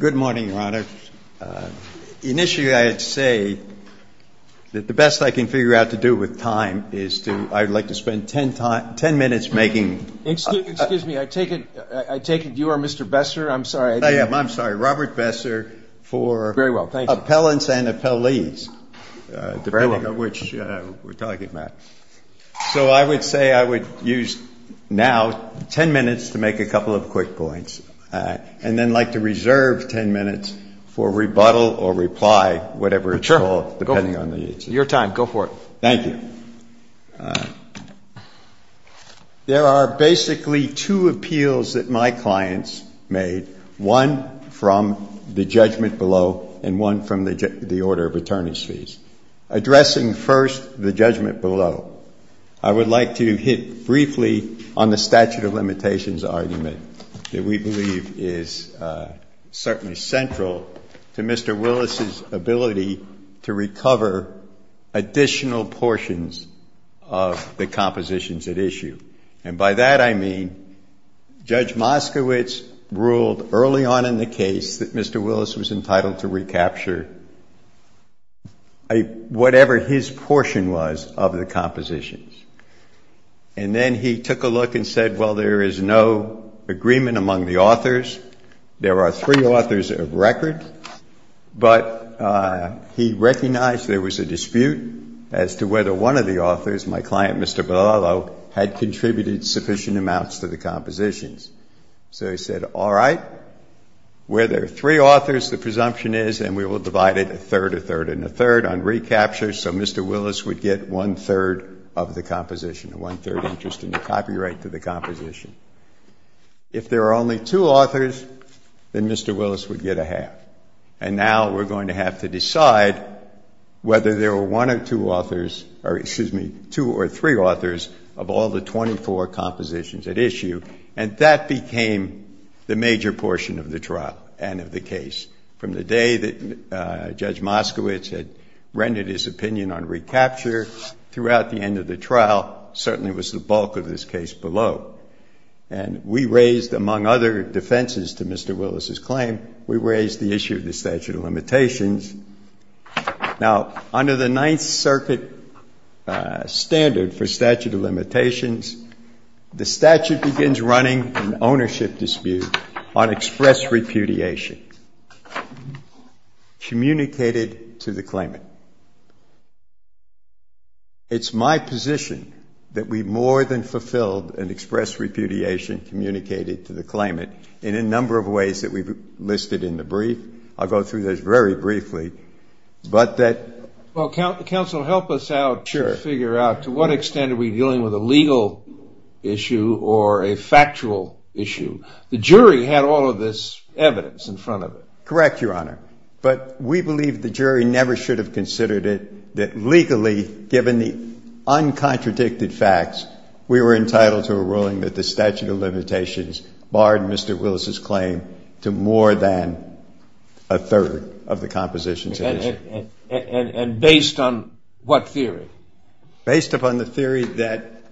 Good morning, Your Honor. Initially, I'd say that the best I can figure out to do with time is to... I'd like to spend ten minutes making... Excuse me. I take it you are Mr. Besser? I'm sorry. I am. I'm sorry. Robert Besser for... Very well. Thank you. ...Appellants and Appellees, depending on which we're talking about. So I would say I would use now ten minutes to make a couple of quick points. And then I'd like to reserve ten minutes for rebuttal or reply, whatever it's called, depending on the... Sure. Go for it. Your time. Go for it. Thank you. There are basically two appeals that my clients made, one from the judgment below and one from the order of attorneys' fees. Addressing first the judgment below, I would like to hit briefly on the statute of limitations argument that we believe is certainly central to Mr. Willis' ability to recover additional portions of the compositions at issue. And by that I mean Judge Moskowitz ruled early on in the case that Mr. Willis was entitled to recapture whatever his portion was of the compositions. And then he took a look and said, well, there is no agreement among the authors. There are three authors of record. But he recognized there was a dispute as to whether one of the authors, my client, Mr. Bellalo, had contributed sufficient amounts to the compositions. So he said, all right, where there are three authors, the presumption is, and we will divide it a third, a third, and a third on recapture so Mr. Willis would get one-third of the composition, one-third interest in the copyright to the composition. If there are only two authors, then Mr. Willis would get a half. And now we're going to have to decide whether there were one or two authors, or excuse me, two or three authors of all the 24 compositions at issue. And that became the major portion of the trial and of the case. From the day that Judge Moskowitz had rendered his opinion on recapture throughout the end of the trial, certainly was the bulk of this case below. And we raised, among other defenses to Mr. Willis's claim, we raised the issue of the statute of limitations. Now, under the Ninth Circuit standard for statute of limitations, the statute begins running an ownership dispute on express repudiation communicated to the claimant. It's my position that we more than fulfilled an express repudiation communicated to the claimant in a number of ways that we've listed in the brief. I'll go through those very briefly. Well, counsel, help us out to figure out to what extent are we dealing with a legal issue or a factual issue? The jury had all of this evidence in front of it. Correct, Your Honor. But we believe the jury never should have considered it that legally, given the uncontradicted facts, we were entitled to a ruling that the statute of limitations barred Mr. Willis's claim to more than a third of the compositions. And based on what theory? Based upon the theory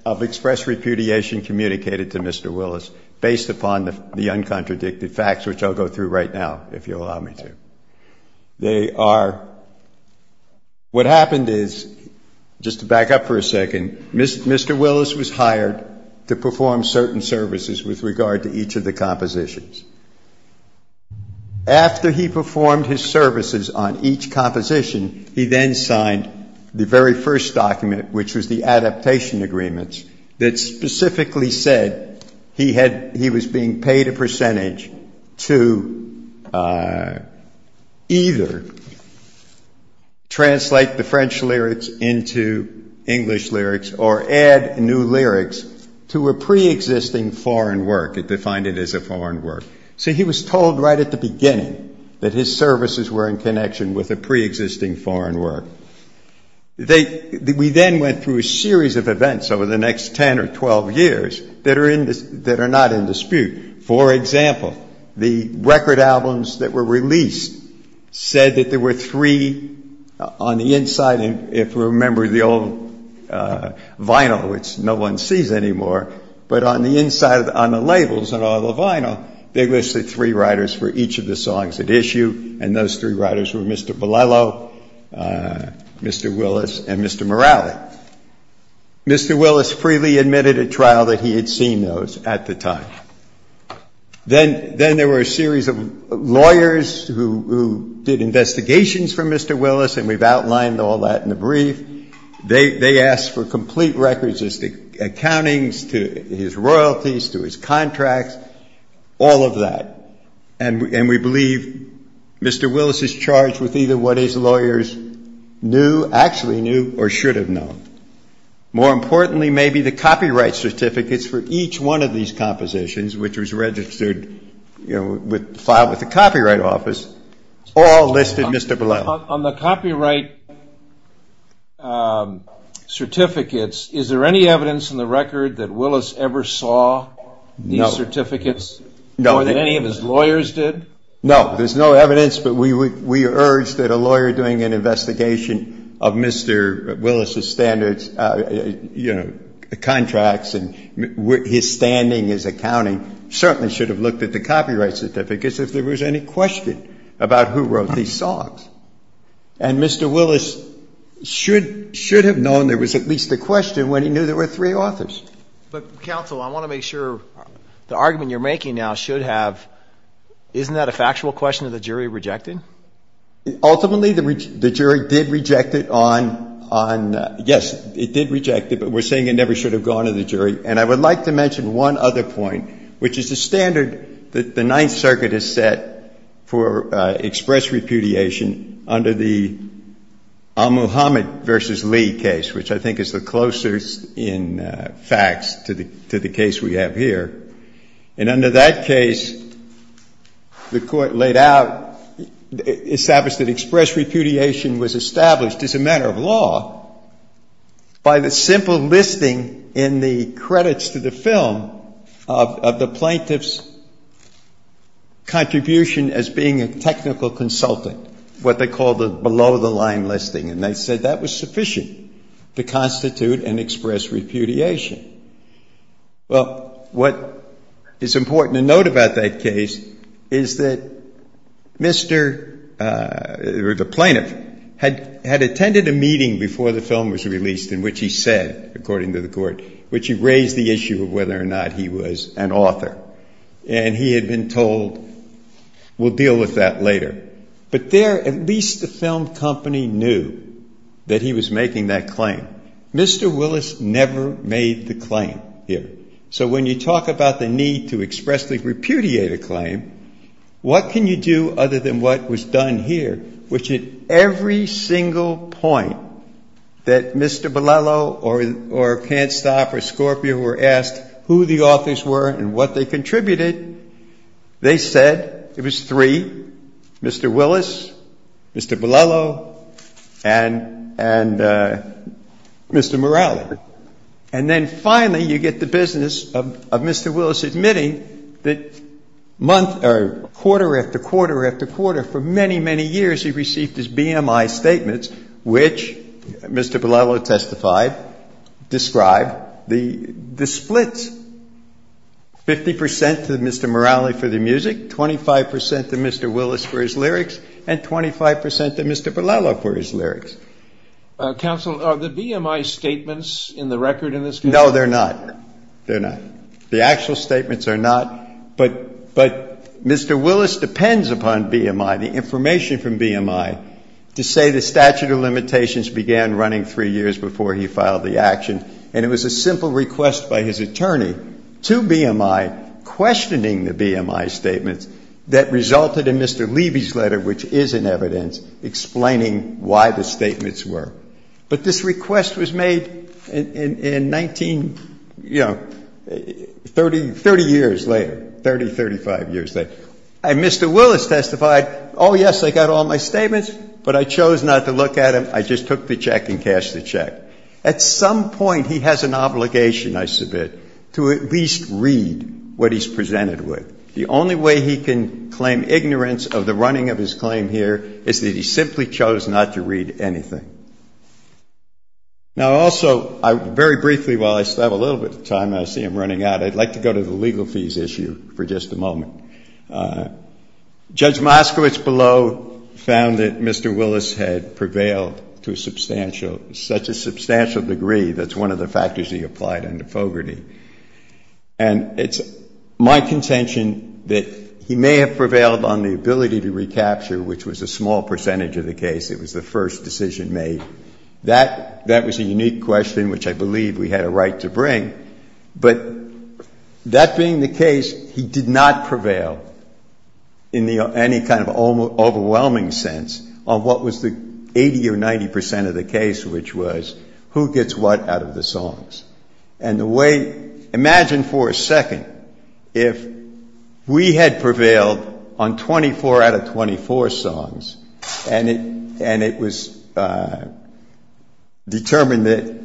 of express repudiation communicated to Mr. Willis, based upon the uncontradicted facts, which I'll go through right now, if you'll allow me to. They are, what happened is, just to back up for a second, Mr. Willis was hired to perform certain services with regard to each of the compositions. After he performed his services on each composition, he then signed the very first document, which was the adaptation agreements, that specifically said he was being paid a percentage to either translate the French lyrics into English lyrics or add new lyrics to a preexisting foreign work. It defined it as a foreign work. So he was told right at the beginning that his services were in connection with a preexisting foreign work. We then went through a series of events over the next 10 or 12 years that are not in dispute. For example, the record albums that were released said that there were three, on the inside, if you remember the old vinyl, which no one sees anymore, but on the inside, on the labels, on all the vinyl, they listed three writers for each of the songs at issue, and those three writers were Mr. Bellello, Mr. Willis, and Mr. Morali. Mr. Willis freely admitted at trial that he had seen those at the time. Then there were a series of lawyers who did investigations for Mr. Willis, and we've outlined all that in the brief. They asked for complete records as to accountings, to his royalties, to his contracts, all of that. And we believe Mr. Willis is charged with either what his lawyers knew, actually knew, or should have known. More importantly, maybe the copyright certificates for each one of these compositions, which was registered, filed with the Copyright Office, all listed Mr. Bellello. On the copyright certificates, is there any evidence in the record that Willis ever saw these certificates? No. More than any of his lawyers did? No. There's no evidence, but we urge that a lawyer doing an investigation of Mr. Willis' standards, you know, contracts and his standing, his accounting, certainly should have looked at the copyright certificates if there was any question about who wrote these songs. And Mr. Willis should have known there was at least a question when he knew there were three authors. But, counsel, I want to make sure the argument you're making now should have, isn't that a factual question that the jury rejected? Ultimately, the jury did reject it on, yes, it did reject it, but we're saying it never should have gone to the jury. And I would like to mention one other point, which is the standard that the Ninth Circuit has set for express repudiation under the Muhammad v. Lee case, which I think is the closest in facts to the case we have here. And under that case, the court laid out, established that express repudiation was established as a matter of law by the simple listing in the credits to the film of the plaintiff's contribution as being a technical consultant, what they called the below-the-line listing. And they said that was sufficient to constitute an express repudiation. Well, what is important to note about that case is that Mr., or the plaintiff, had attended a meeting before the film was released in which he said, according to the court, which he raised the issue of whether or not he was an author. And he had been told, we'll deal with that later. But there, at least the film company knew that he was making that claim. Mr. Willis never made the claim here. So when you talk about the need to expressly repudiate a claim, what can you do other than what was done here, which at every single point that Mr. Bellello or Can't Stop or Scorpio were asked who the authors were and what they contributed, they said it was three, Mr. Willis, Mr. Bellello, and Mr. Morales. And then finally you get the business of Mr. Willis admitting that quarter after quarter after quarter for many, many years he received his BMI statements, which Mr. Bellello testified, described the splits, 50% to Mr. Morales for the music, 25% to Mr. Willis for his lyrics, and 25% to Mr. Bellello for his lyrics. Counsel, are the BMI statements in the record in this case? No, they're not. They're not. The actual statements are not. But Mr. Willis depends upon BMI, the information from BMI, to say the statute of limitations began running three years before he filed the action, and it was a simple request by his attorney to BMI questioning the BMI statements that resulted in Mr. Levy's letter, which is in evidence, explaining why the statements were. But this request was made in 19, you know, 30 years later, 30, 35 years later. And Mr. Willis testified, oh, yes, I got all my statements, but I chose not to look at them. I just took the check and cashed the check. At some point he has an obligation, I submit, to at least read what he's presented with. The only way he can claim ignorance of the running of his claim here is that he simply chose not to read anything. Now, also, very briefly, while I still have a little bit of time and I see him running out, I'd like to go to the legal fees issue for just a moment. Judge Moskowitz below found that Mr. Willis had prevailed to a substantial, such a substantial degree that's one of the factors he applied under Fogarty. And it's my contention that he may have prevailed on the ability to recapture, which was a small percentage of the case. It was the first decision made. That was a unique question, which I believe we had a right to bring. But that being the case, he did not prevail in any kind of overwhelming sense on what was the 80 or 90 percent of the case, which was who gets what out of the songs. And the way, imagine for a second, if we had prevailed on 24 out of 24 songs and it was determined that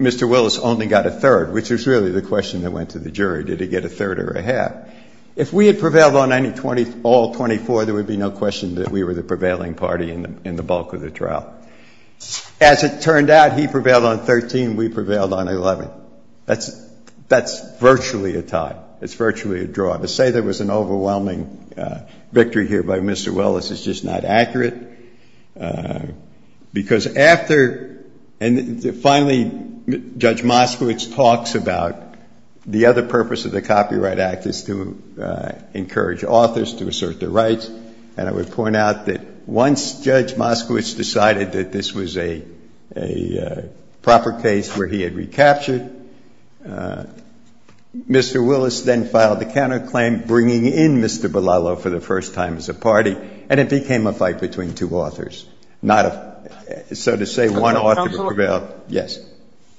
Mr. Willis only got a third, which is really the question that went to the jury, did he get a third or a half? If we had prevailed on all 24, there would be no question that we were the prevailing party in the bulk of the trial. As it turned out, he prevailed on 13, we prevailed on 11. It's virtually a draw. To say there was an overwhelming victory here by Mr. Willis is just not accurate. Because after, and finally, Judge Moskowitz talks about the other purpose of the Copyright Act is to encourage authors to assert their rights. And I would point out that once Judge Moskowitz decided that this was a proper case where he had recaptured, Mr. Willis then filed the counterclaim bringing in Mr. Belalo for the first time as a party, and it became a fight between two authors. So to say one author prevailed, yes.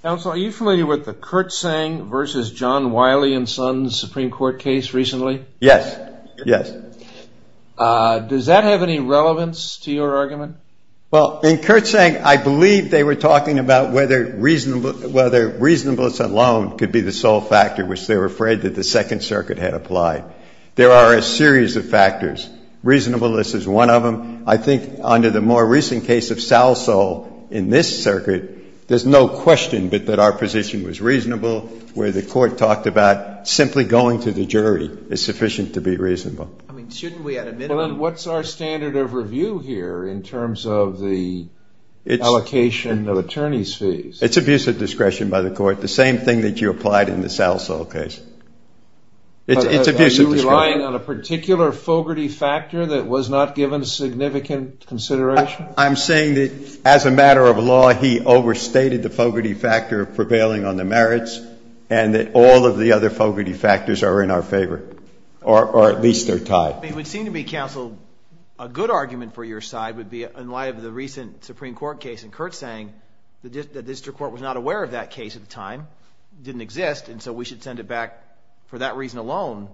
Counsel, are you familiar with the Kurt Sang versus John Wiley and Sons Supreme Court case recently? Yes, yes. Does that have any relevance to your argument? Well, in Kurt Sang, I believe they were talking about whether reasonableness alone could be the sole factor which they were afraid that the Second Circuit had applied. There are a series of factors. Reasonableness is one of them. I think under the more recent case of Sal Sol in this circuit, there's no question but that our position was reasonable, where the Court talked about simply going to the jury is sufficient to be reasonable. I mean, shouldn't we at a minimum Well, then what's our standard of review here in terms of the allocation of attorney's fees? It's abusive discretion by the Court, the same thing that you applied in the Sal Sol case. It's abusive discretion. Are you relying on a particular Fogarty factor that was not given significant consideration? I'm saying that as a matter of law, he overstated the Fogarty factor prevailing on the merits and that all of the other Fogarty factors are in our favor, or at least they're tied. It would seem to me, counsel, a good argument for your side would be in light of the recent Supreme Court case in Kurt Sang that the district court was not aware of that case at the time, didn't exist, and so we should send it back for that reason alone.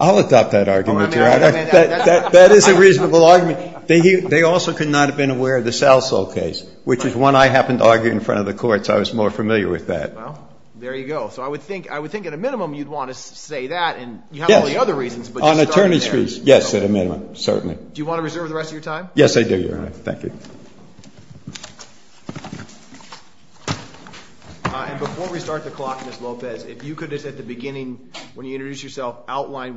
I'll adopt that argument, Your Honor. That is a reasonable argument. They also could not have been aware of the Sal Sol case, which is one I happened to argue in front of the Court, so I was more familiar with that. Well, there you go. So I would think at a minimum you'd want to say that, and you have all the other reasons, but you started there. Yes, on attorney's fees, yes, at a minimum, certainly. Do you want to reserve the rest of your time? Yes, I do, Your Honor. Thank you. And before we start the clock, Ms. Lopez, if you could just at the beginning, Yes, Your Honor.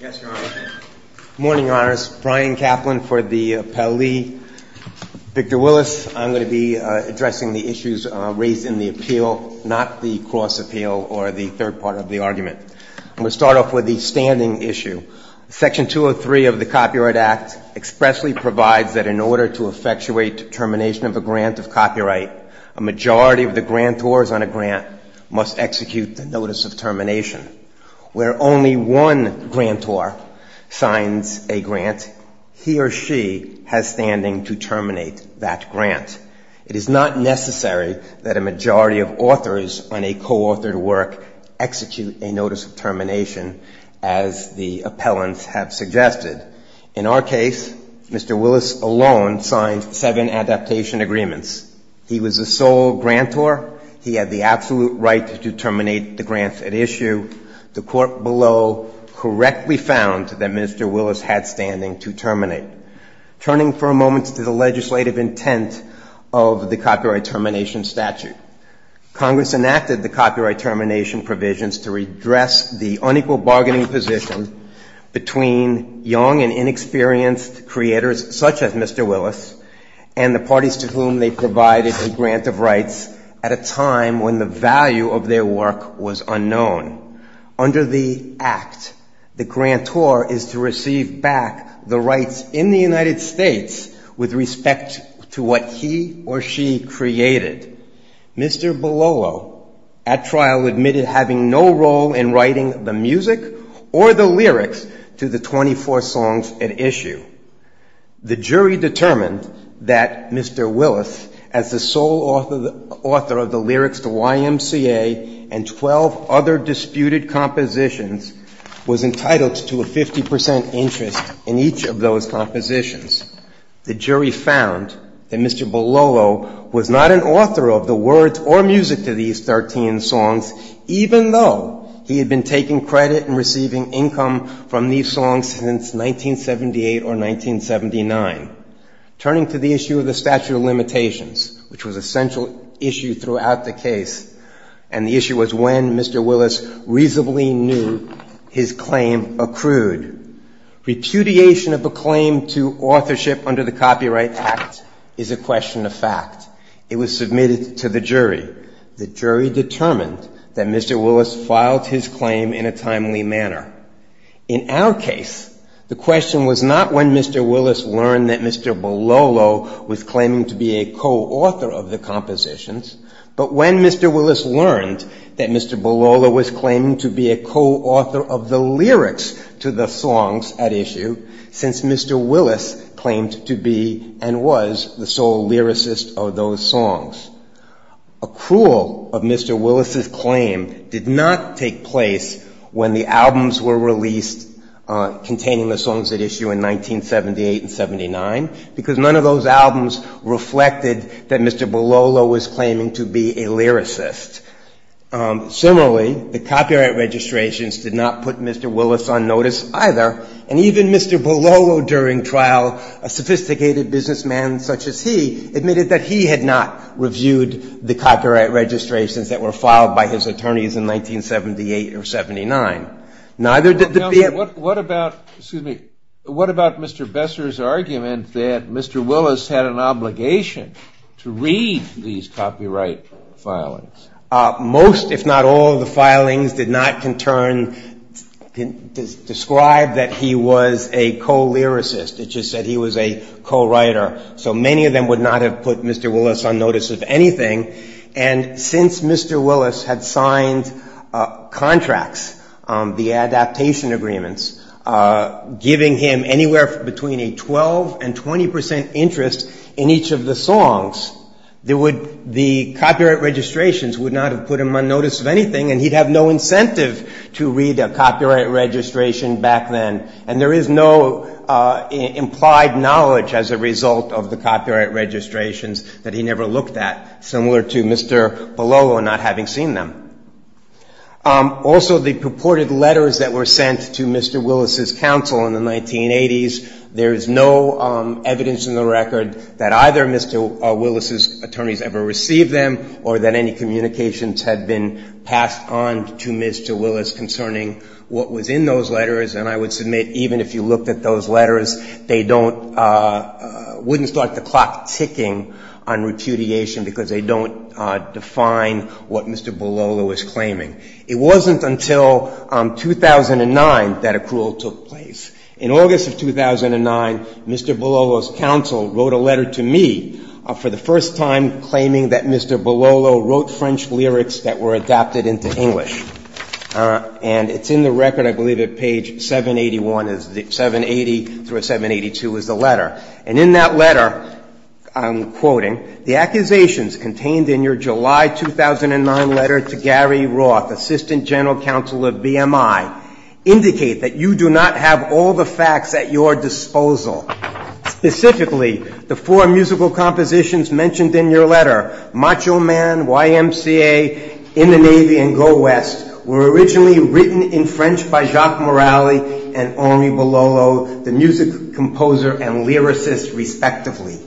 Good morning, Your Honors. Brian Kaplan for the appellee. Victor Willis. I'm going to be addressing the issues raised in the appeal, not the cross appeal or the third part of the argument. I'm going to start off with the standing issue. Section 203 of the Copyright Act expressly provides that in order to effectuate termination of a grant of copyright, a majority of the grantors on a grant must execute the notice of termination, where only one grantor signs a grant, he or she has standing to terminate that grant. It is not necessary that a majority of authors on a co-authored work execute a notice of termination, as the appellants have suggested. In our case, Mr. Willis alone signed seven adaptation agreements. He was the sole grantor. He had the absolute right to terminate the grants at issue. The court below correctly found that Mr. Willis had standing to terminate. Turning for a moment to the legislative intent of the copyright termination statute, Congress enacted the copyright termination provisions to redress the unequal bargaining position between young and inexperienced creators such as Mr. Willis and the parties to whom they provided a grant of rights at a time when the value of their work was unknown. Under the Act, the grantor is to receive back the rights in the United States with respect to what he or she created. Mr. Bololo at trial admitted having no role in writing the music or the lyrics to the 24 songs at issue. The jury determined that Mr. Willis, as the sole author of the lyrics to YMCA and 12 other disputed compositions, was entitled to a 50 percent interest in each of those compositions. The jury found that Mr. Bololo was not an author of the words or music to these 13 songs, even though he had been taking credit and receiving income from these songs since 1978 or 1980. Mr. Bololo's claim was rejected in the Supreme Court in 1979. Turning to the issue of the statute of limitations, which was a central issue throughout the case, and the issue was when Mr. Willis reasonably knew his claim accrued. Repudiation of a claim to authorship under the Copyright Act is a question of fact. It was submitted to the jury. The jury determined that Mr. Willis filed his claim in a timely manner. In our case, the question was not when Mr. Willis learned that Mr. Bololo was claiming to be a co-author of the compositions, but when Mr. Willis learned that Mr. Bololo was claiming to be a co-author of the lyrics to the songs at issue since Mr. Willis claimed to be and was the sole lyricist of those songs. Accrual of Mr. Willis's claim did not take place when the albums were released containing the songs at issue in 1978 and 79, because none of those albums reflected that Mr. Bololo was claiming to be a lyricist. Similarly, the copyright registrations did not put Mr. Willis on notice either, and even Mr. Bololo during trial, a sophisticated businessman such as he, admitted that he had not reviewed the copyright registrations that were filed by his attorneys in 1978 or 79. Neither did the... What about Mr. Besser's argument that Mr. Willis had an obligation to read these copyright filings? Most, if not all, of the filings did not concern, describe that he had an obligation to read the copyright registrations that were filed by his attorneys. The only other thing that was concerned was that Mr. Bololo was a co-lyricist. It just said he was a co-writer. So many of them would not have put Mr. Willis on notice of anything, and since Mr. Willis had signed contracts, the adaptation agreements, and there is no implied knowledge as a result of the copyright registrations that he never looked at, similar to Mr. Bololo not having seen them. Also, the purported letters that were sent to Mr. Willis's counsel in the 1980s, there is no evidence in the record that either Mr. Willis's attorneys ever received them or that any communications had been passed on to Mr. Willis concerning what was in those letters, and I would submit even if you looked at those letters, they don't, wouldn't start the clock ticking on repudiation because they don't define what Mr. Bololo was claiming. It wasn't until 2009 that accrual took place. In August of 2009, Mr. Bololo's counsel wrote a letter to me for the first time claiming that Mr. Bololo wrote French lyrics that were adapted into English. And it's in the record, I believe at page 781, 780 through 782 is the letter. And in that letter, I'm quoting, the accusations contained in your July 2009 letter to Gary Roth, Assistant General Counsel of BMI, indicate that you do not have all the facts at your disposal. Specifically, the four musical compositions mentioned in your letter, Macho Man, YMCA, In the Navy and Go West, were originally written in French by Jacques Morali and Henri Bololo, the music composer and lyricist respectively.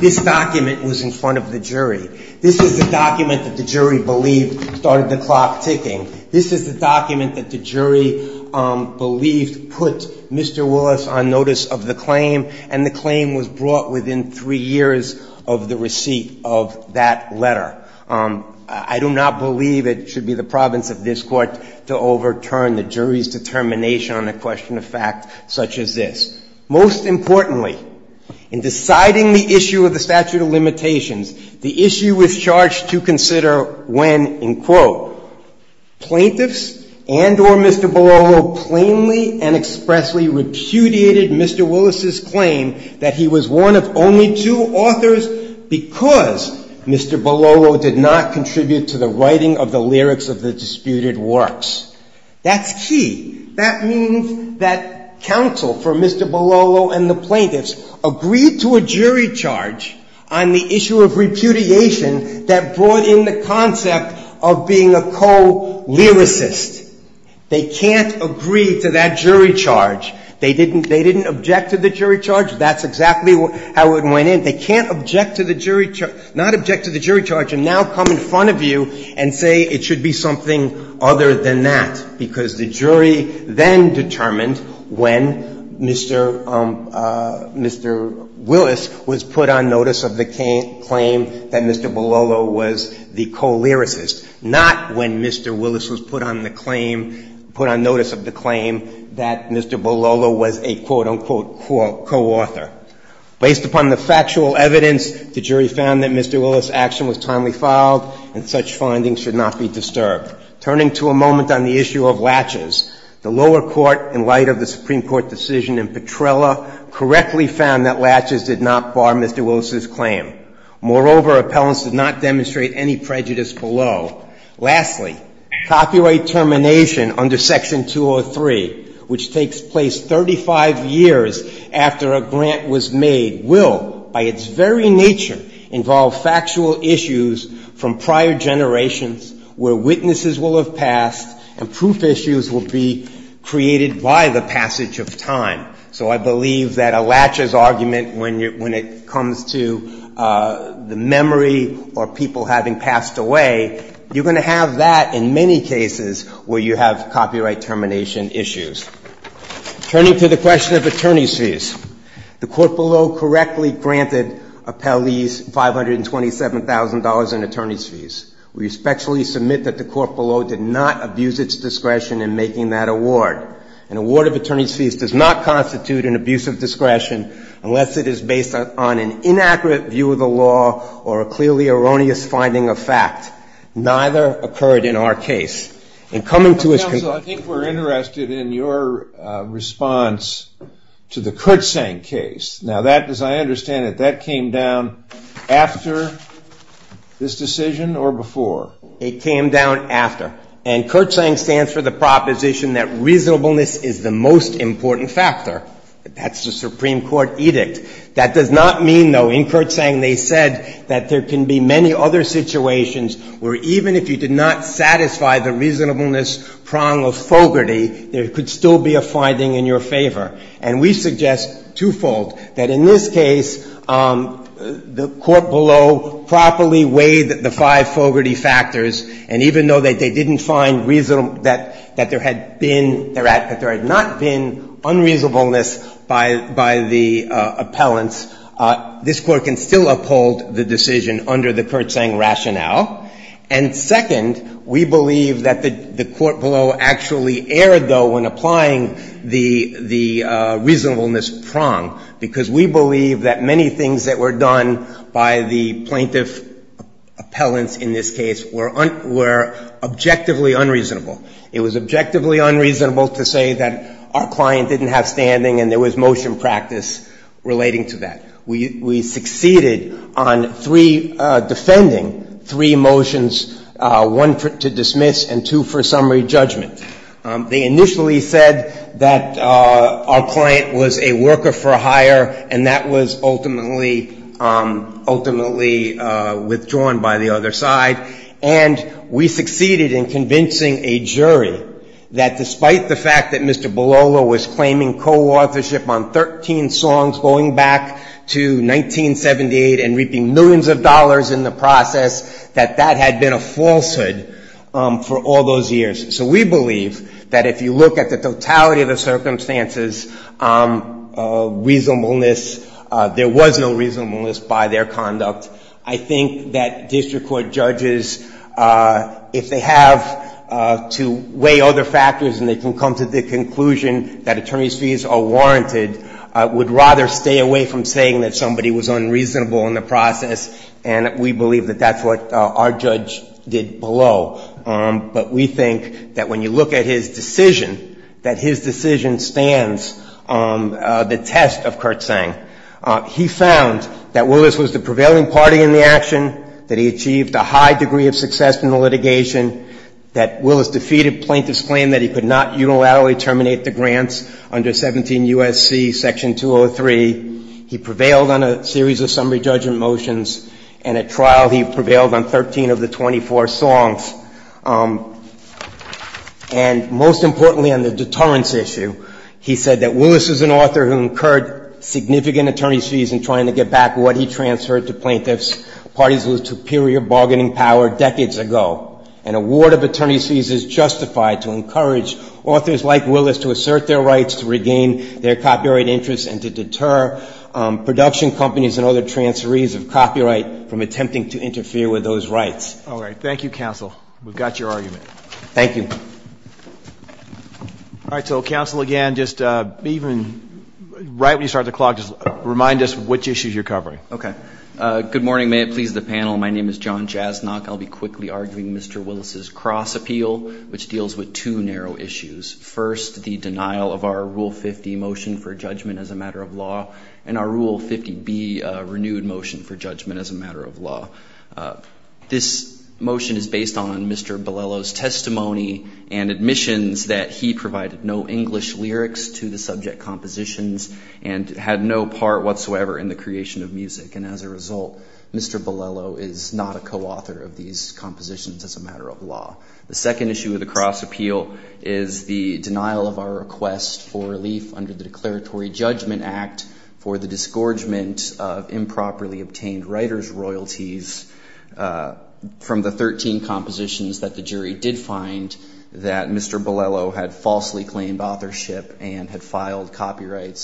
This document was in front of the jury. This is the document that the jury believed started the clock ticking. This is the document that the jury believed put Mr. Willis on notice of the claim, and the claim was brought within three years of the receipt of that letter. I do not believe it should be the province of this Court to overturn the jury's determination on a question of fact such as this. Most importantly, in deciding the issue of the statute of limitations, the issue was charged to consider when, in quote, plaintiffs and or Mr. Bololo plainly and expressly repudiated Mr. Willis's claim that he was one of only two authors because Mr. Bololo did not contribute to the writing of the lyrics of the disputed works. That's key. That means that counsel for Mr. Bololo and the plaintiffs agreed to a jury charge on the issue of repudiation that brought in the concept of being a co-lyricist. They can't agree to that jury charge. They didn't object to the jury charge. That's exactly how it went in. They can't object to the jury charge, not object to the jury charge, and now come in front of you and say it should be something other than that because the jury then determined when Mr. Willis was put on notice of the claim that Mr. Bololo was the co-lyricist, not when Mr. Willis was put on the claim, put on notice of the claim that Mr. Bololo was a quote, unquote, co-author. Based upon the factual evidence, the jury found that Mr. Willis's action was timely filed and such findings should not be disturbed. Turning to a moment on the issue of latches, the lower court, in light of the Supreme Court decision in Petrella, correctly found that latches did not bar Mr. Willis's claim. Moreover, appellants did not demonstrate any prejudice below. Lastly, copyright termination under Section 203, which takes place 35 years after a grant was made, will, by its very nature, involve factual issues from prior generations where witnesses will have passed and proof issues will be created by the passage of time. So I believe that a latches argument, when it comes to the memory or people having passed away, you're going to have that in many cases where you have copyright termination issues. Turning to the question of attorneys' fees, the court below correctly granted appellees $527,000 in attorneys' fees. We respectfully submit that the court below did not abuse its discretion in making that award. An award of attorneys' fees does not constitute an abuse of discretion unless it is based on an inaccurate view of the case. The Supreme Court, in light of the Supreme Court decision in Petrella, correctly found that latches did not bar Mr. Willis's claim. Moreover, appellants did not demonstrate unreasonableness by the appellants. This Court can still uphold the decision under the Kurtzang rationale. And second, we believe that the court below actually erred, though, when applying the reasonableness prong, because we believe that many things that were done by the plaintiff appellants in this case were objectively unreasonable. It was objectively unreasonable to say that our client didn't have standing and there was motion practice relating to that. We succeeded on three, defending three motions, one to dismiss and two for summary judgment. They initially said that our client was a worker for hire, and that was ultimately withdrawn by the other side. And we succeeded in convincing a jury that despite the fact that Mr. Bellolo was claiming co-authorship on 13 songs going back to 1978 and reaping millions of dollars in the process, that that had been a falsehood for all those years. So we believe that if you look at the totality of the circumstances of reasonableness, there was no reasonableness by their conduct. I think that district court judges, if they have to weigh other factors and they can come to the conclusion that attorney's fees are warranted, would rather stay away from saying that somebody was unreasonable in the process, and we believe that that's what our judge did below. But we think that when you look at his decision, that his decision stands the test of Kurtzang. He found that Willis was the prevailing party in the action, that he achieved a high degree of success in the litigation, that Willis defeated plaintiff's claim that he could not unilaterally terminate the grants under 17 U.S.C. Section 203. He prevailed on a series of summary judgment motions, and at trial he prevailed on 13 of the 24 songs. And most importantly on the deterrence issue, he said that Willis is an author who incurred significant attorney's fees in trying to get back what he transferred to plaintiff's parties with superior bargaining power decades ago. An award of attorney's fees is justified to encourage authors like Willis to assert their rights, to regain their copyright interests, and to deter production companies and other transferees of copyright from attempting to interfere with those rights. All right. Thank you, counsel. We've got your argument. Thank you. All right. So counsel, again, just even right when you start the clock, just remind us which issues you're covering. Okay. Good morning. May it please the panel. My name is John Jasnok. I'll be quickly arguing Mr. Willis's cross appeal, which deals with two narrow issues. First, the denial of our Rule 50 motion for judgment as a matter of law, and our Rule 50B renewed motion for judgment as a matter of law. This motion is based on Mr. Bilello's testimony and admissions that he provided no English lyrics to the subject compositions and had no part whatsoever in the creation of music. And as a result, Mr. Bilello is not a subject of the compositions as a matter of law. The second issue of the cross appeal is the denial of our request for relief under the declaratory judgment act for the disgorgement of improperly obtained writer's royalties from the 13 compositions that the jury did find that Mr. Bilello had falsely claimed authorship and had filed copyright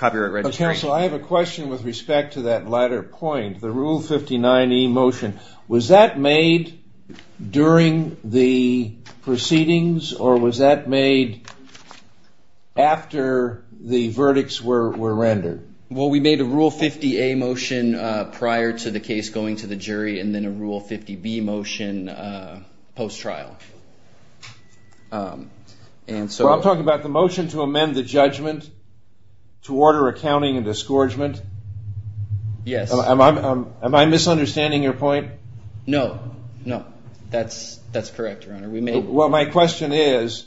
registration. So I have a question with respect to that latter point, the Rule 59E motion. Was that made during the proceedings or was that made after the verdicts were rendered? Well, we made a Rule 50A motion prior to the case going to the jury and then a Rule 50B motion post-trial. Well, I'm talking about the motion to amend the judgment to order accounting and disgorgement. Am I misunderstanding your point? No, no. That's correct, Your Honor. Well, my question is,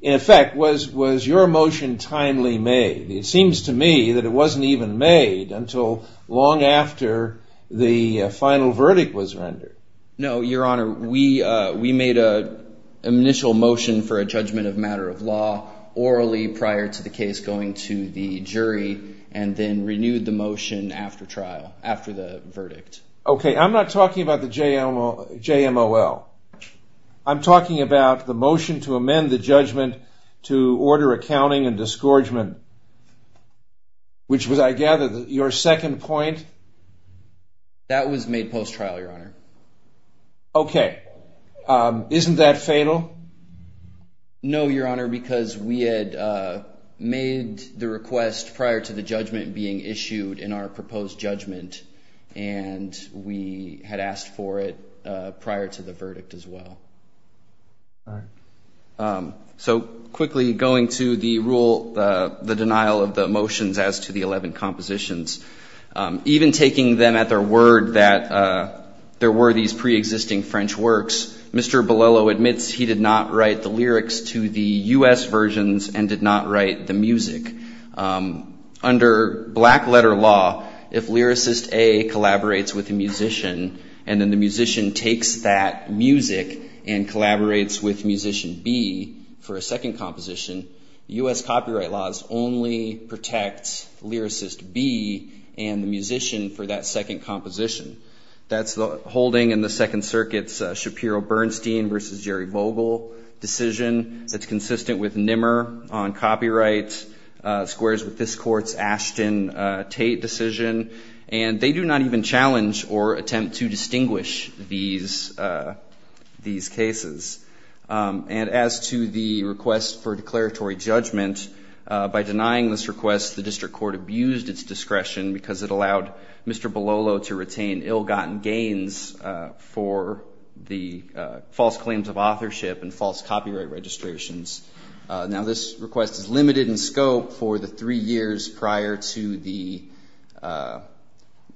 in effect, was your motion timely made? It seems to me that it wasn't even made until long after the final verdict was rendered. No, Your Honor. We made an initial motion for a judgment of matter of law orally prior to the case going to the jury and then renewed the motion after the verdict. Okay. I'm not talking about the JMOL. I'm talking about the motion to amend the judgment to order accounting and disgorgement, which was, I gather, your second point? That was made post-trial, Your Honor. Okay. Isn't that fatal? No, Your Honor, because we had made the request prior to the judgment being issued in our proposed judgment and we had asked for it prior to the verdict as well. All right. So quickly, going to the rule, the denial of the motions as to the 11 compositions, even taking them at their word that there were these preexisting French works, Mr. Bolello admits he did not write the lyrics to the U.S. versions and did not write the music. Under black letter law, if lyricist A collaborates with the musician and then the musician takes that music and collaborates with musician B for a second composition, U.S. copyright laws only protect lyricist B and the musician for that second composition. That's the holding in the Second Circuit's Shapiro-Bernstein versus Jerry Vogel decision. That's consistent with Nimmer on copyrights. Squares with this court's Ashton Tate decision. And they do not even challenge or attempt to distinguish these cases. And as to the request for declaratory judgment, by denying this request, the district court abused its discretion because it allowed Mr. Bolello to retain ill-gotten gains for the false claims of authorship and false copyright registrations. Now, this request is limited in scope for the three years prior to the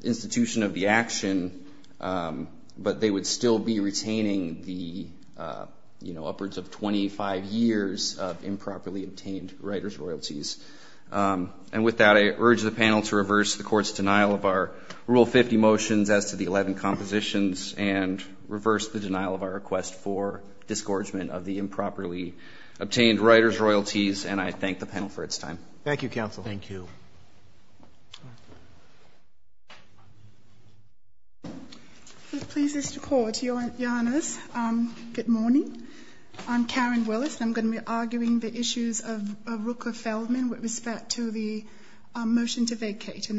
institution of the action, but they would still be retaining the, you know, upwards of 25 years of improperly obtained writer's royalties. And with that, I urge the panel to reverse the court's denial of our Rule 50 motions as to the 11 compositions and reverse the denial of our request for disgorgement of the improperly obtained writer's royalties. And I thank the panel for its time. Thank you, counsel. Thank you. Please, Mr. Court, your honors, good morning. I'm Karen Willis. I'm going to be arguing the issues of Rooker Feldman with respect to the motion to vacate in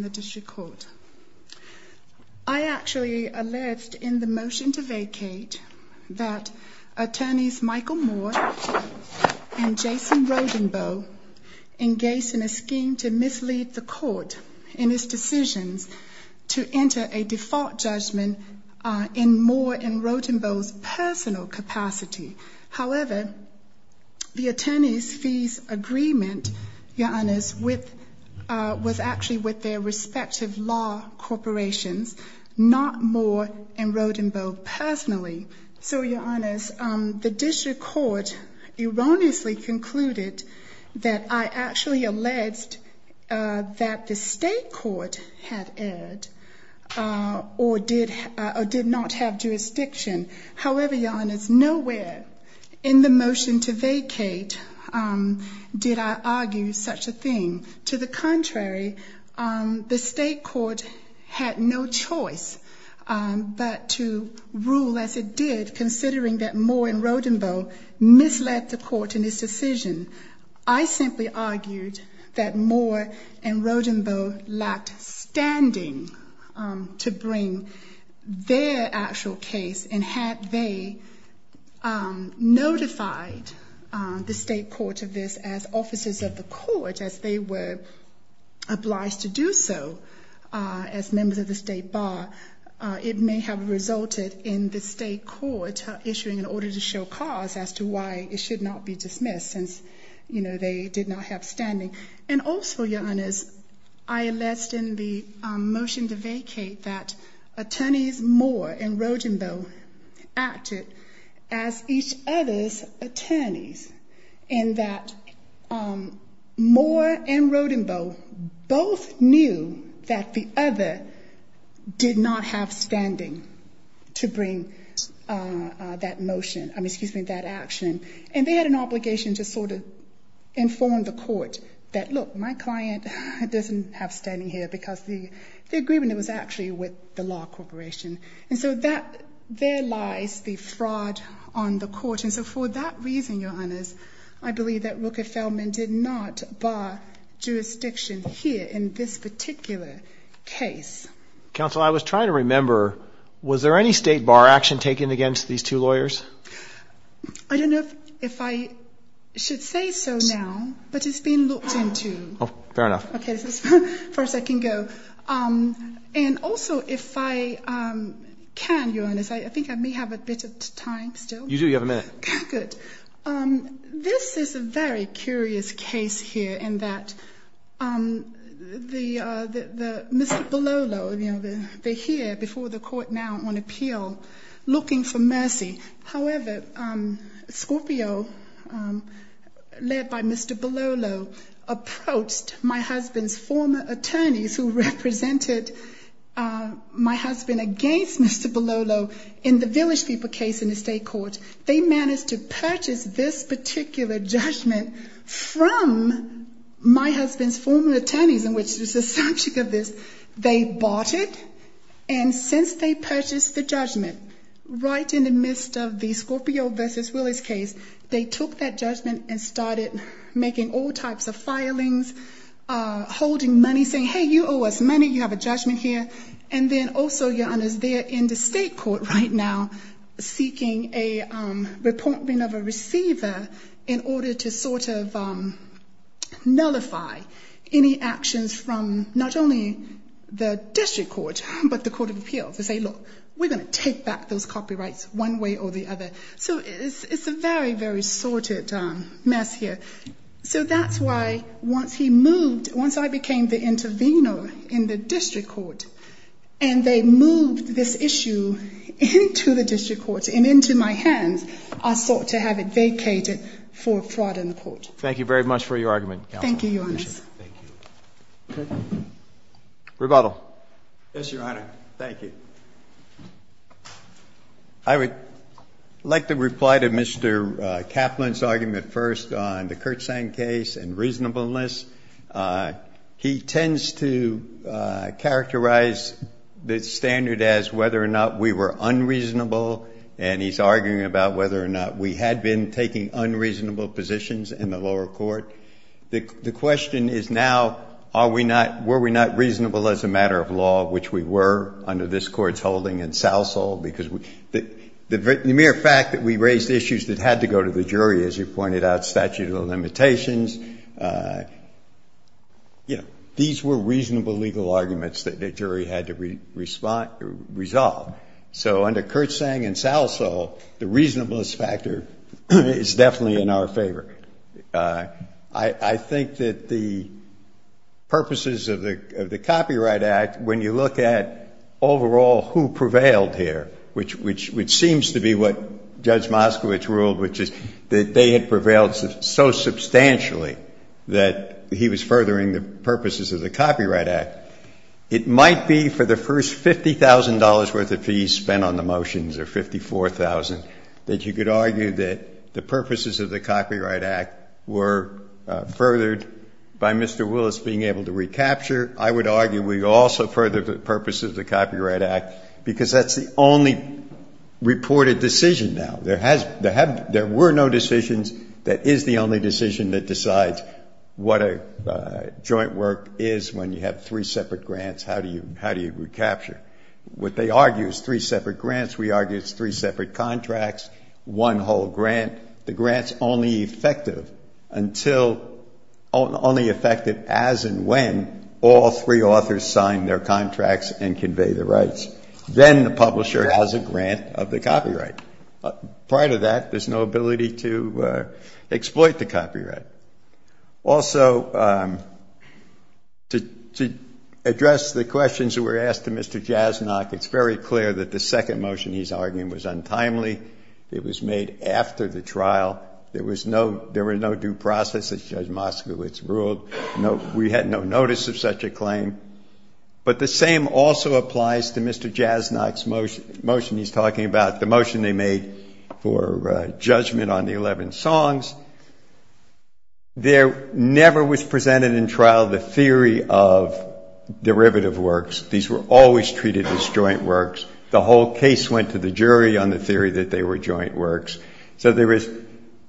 the district court. I actually alleged in the motion to vacate that attorneys Michael Moore and Jason Rodenboe engaged in a scheme to mislead the court in its decisions to enter a default judgment in Moore and Rodenboe's personal capacity. However, the attorney's fees agreement, your honors, was actually with their respective law corporations, not Moore and Rodenboe personally. So, your honors, the district court erroneously concluded that I actually alleged that the state court had erred or did not have jurisdiction. However, your honors, nowhere in the motion to vacate did I argue such a thing. To the contrary, the state court had no choice but to rule as it did, considering that Moore and Rodenboe misled the court. So, I actually argued that Moore and Rodenboe lacked standing to bring their actual case, and had they notified the state court of this as officers of the court, as they were obliged to do so as members of the state bar, it may have resulted in the state court issuing an order to show cause as to why it should not be dismissed since they did not have standing. And also, your honors, I alleged in the motion to vacate that attorneys Moore and Rodenboe acted as each other's attorneys, and that Moore and Rodenboe both knew that the other did not have standing to bring that motion. I'm sorry, your honors, I believe that Rooker-Feldman did not bar jurisdiction here in this particular case. Counsel, I was trying to remember, was there any state bar action taken against these two lawyers? I don't know if I should say so now, but it's been looked into. Oh, fair enough. Okay, this is as far as I can go. And also, if I can, your honors, I think I may have a bit of time still. You do, you have a minute. Good. This is a very curious case here in that the Mr. Belolo is now on appeal looking for mercy. However, Scorpio, led by Mr. Belolo, approached my husband's former attorneys who represented my husband against Mr. Belolo in the Village People case in the state court. They managed to purchase this particular judgment from my husband, and they purchased the judgment right in the midst of the Scorpio v. Willis case. They took that judgment and started making all types of filings, holding money, saying, hey, you owe us money, you have a judgment here. And then also, your honors, they're in the state court right now seeking a report of a receiver in order to sort of nullify any actions from not only the district court, but the court of appeals to say, look, we're going to take back those copyrights one way or the other. So it's a very, very sordid mess here. So that's why once he moved, once I became the intervener in the case, I sought to have it vacated for fraud in the court. Thank you very much for your argument, counsel. Thank you, your honors. Rebuttal. Yes, your honor. Thank you. I would like to reply to Mr. Kaplan's argument first on the Kurtzahn case and reasonableness. He tends to characterize the standard as whether or not we were unreasonable, and he's arguing about whether or not we had been taking unreasonable positions in the lower court. The question is now, are we not, were we not reasonable as a matter of law, which we were under this Court's holding in Southsall, because the mere fact that we raised issues that had to go to the jury, as you pointed out, statute of the limitations, you know, these were reasonable legal arguments that the jury had to resolve. So under Kurtzahn and Southsall, the reasonableness factor is definitely in our favor. I think that the purposes of the Copyright Act, when you look at overall who prevailed here, which seems to be what Judge Moskowitz ruled, which is that they had prevailed so substantially that he was furthering the purposes of the Copyright Act, it might be for the first $50,000 worth of fees spent on the motions, or $54,000, that you could argue that the purposes of the Copyright Act were furthered by Mr. Willis being able to recapture. I would argue we also furthered the purposes of the Copyright Act because that's the only reported decision now. There were no decisions. That is the only decision that decides what a joint work is when you have three separate grants, how do you recapture. What they argue is three separate grants. We argue it's three separate contracts, one whole grant. The grant's only effective as and when all three authors sign their contracts and convey their rights. Then the publisher has a grant of the copyright. Prior to that, there's no ability to exploit the copyright. Also, to address the questions that were asked to Mr. Jasnok, it's very clear that the second motion he's arguing was untimely. It was made after the trial. There was no due process, as Judge Moskowitz ruled. We had no notice of such a claim. But the same also applies to Mr. Jasnok's motion. He's talking about the motion they made for judgment on the 11 songs. There never was presented in trial the theory of derivative works. These were always treated as joint works. The whole case went to the jury on the theory that they were joint works. So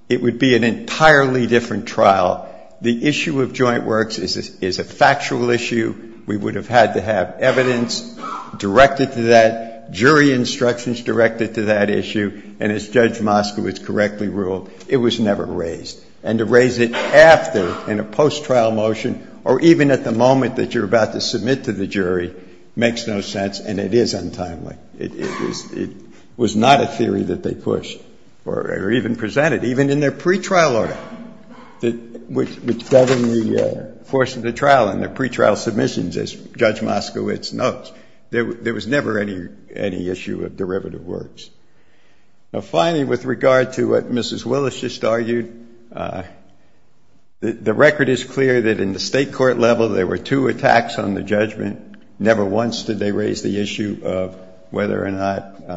it would be an entirely different trial. The issue of joint works is a factual issue. We would have had to have evidence directed to that. The jury instructions directed to that issue, and as Judge Moskowitz correctly ruled, it was never raised. And to raise it after, in a post-trial motion, or even at the moment that you're about to submit to the jury, makes no sense, and it is untimely. It was not a theory that they pushed or even presented, even in their pretrial order, which governed the course of the trial and their pretrial submissions, as Judge Moskowitz notes. There was never any issue of derivative works. Finally, with regard to what Mrs. Willis just argued, the record is clear that in the state court level there were two attacks on the judgment. Never once did they raise the issue of whether or not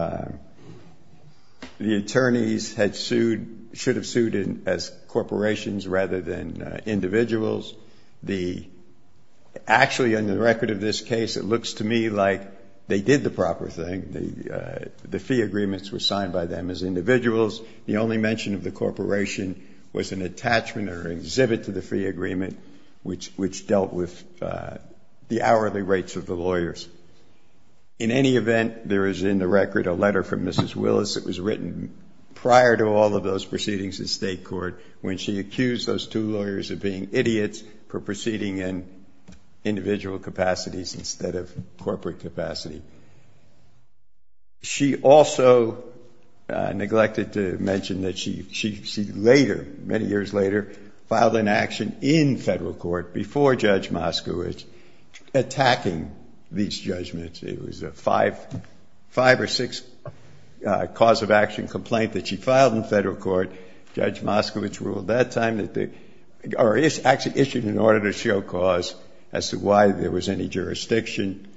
the attorneys should have sued as corporations rather than individuals. Actually, on the record of this case, it looks to me like they did the proper thing. The fee agreements were signed by them as individuals. The only mention of the corporation was an attachment or exhibit to the fee agreement, which dealt with the hourly rates of the lawyers. In any event, there is in the record a letter from Mrs. Willis that was written prior to all of those proceedings in state court when she accused those two lawyers of being idiots for proceeding in individual capacities instead of corporate capacity. She also neglected to mention that she later, many years later, filed an action in federal court before Judge Moskowitz attacking these judgments. It was a five or six cause of action complaint that she filed in federal court. Judge Moskowitz ruled that time that the or actually issued an order to show cause as to why there was any jurisdiction.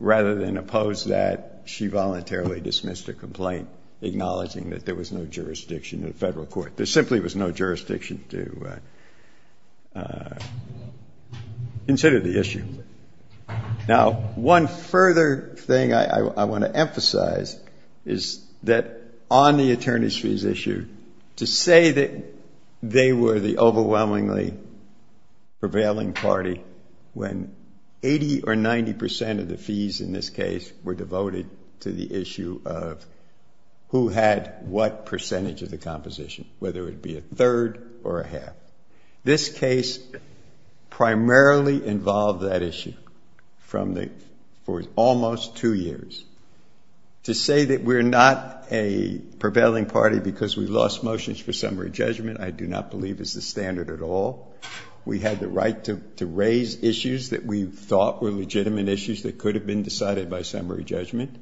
Rather than oppose that, she voluntarily dismissed the complaint, acknowledging that there was no jurisdiction in federal court. There simply was no jurisdiction to consider the issue. Now, one further thing I want to emphasize is that on the attorneys' fees issue, to say that they were the overwhelmingly prevailing party when 80 or 90% of the fees in this case were devoted to the issue of who had what percentage of the composition, whether it be a third or a half. This case primarily involved that issue for almost two years. To say that we're not a prevailing party because we lost motions for summary judgment I do not believe is the standard at all. We had the right to raise issues that we thought were legitimate issues that could have been decided by summary judgment.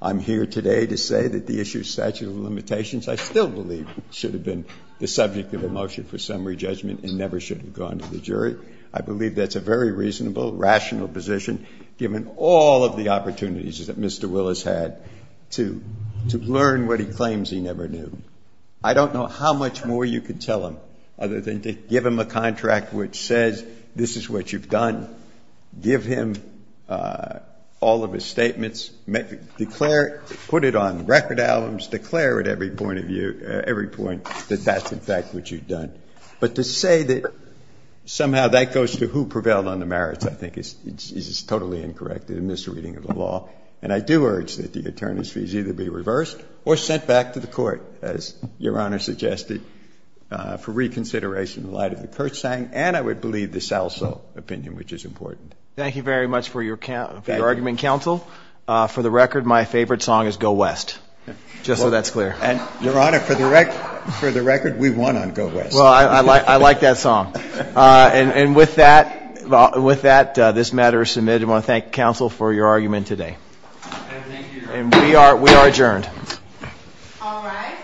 I'm here today to say that the issue of statute of limitations I still believe should have been the subject of a motion for summary judgment and never should have gone to the jury. I believe that's a very reasonable, rational position given all of the experience Mr. Willis had to learn what he claims he never knew. I don't know how much more you could tell him other than to give him a contract which says this is what you've done, give him all of his statements, put it on record albums, declare at every point that that's in fact what you've done. But to say that somehow that goes to who prevailed on the merits I think is totally incorrect and a misreading of the law. And I do urge that the attorney's fees either be reversed or sent back to the court, as Your Honor suggested, for reconsideration in light of the Kurtzsang and I would believe the Salso opinion, which is important. Thank you very much for your argument, counsel. For the record, my favorite song is Go West, just so that's clear. Your Honor, for the record, we won on Go West. Well, I like that song. And with that, this matter is submitted. I want to thank counsel for your argument today. And thank you, Your Honor. And we are adjourned. All rise.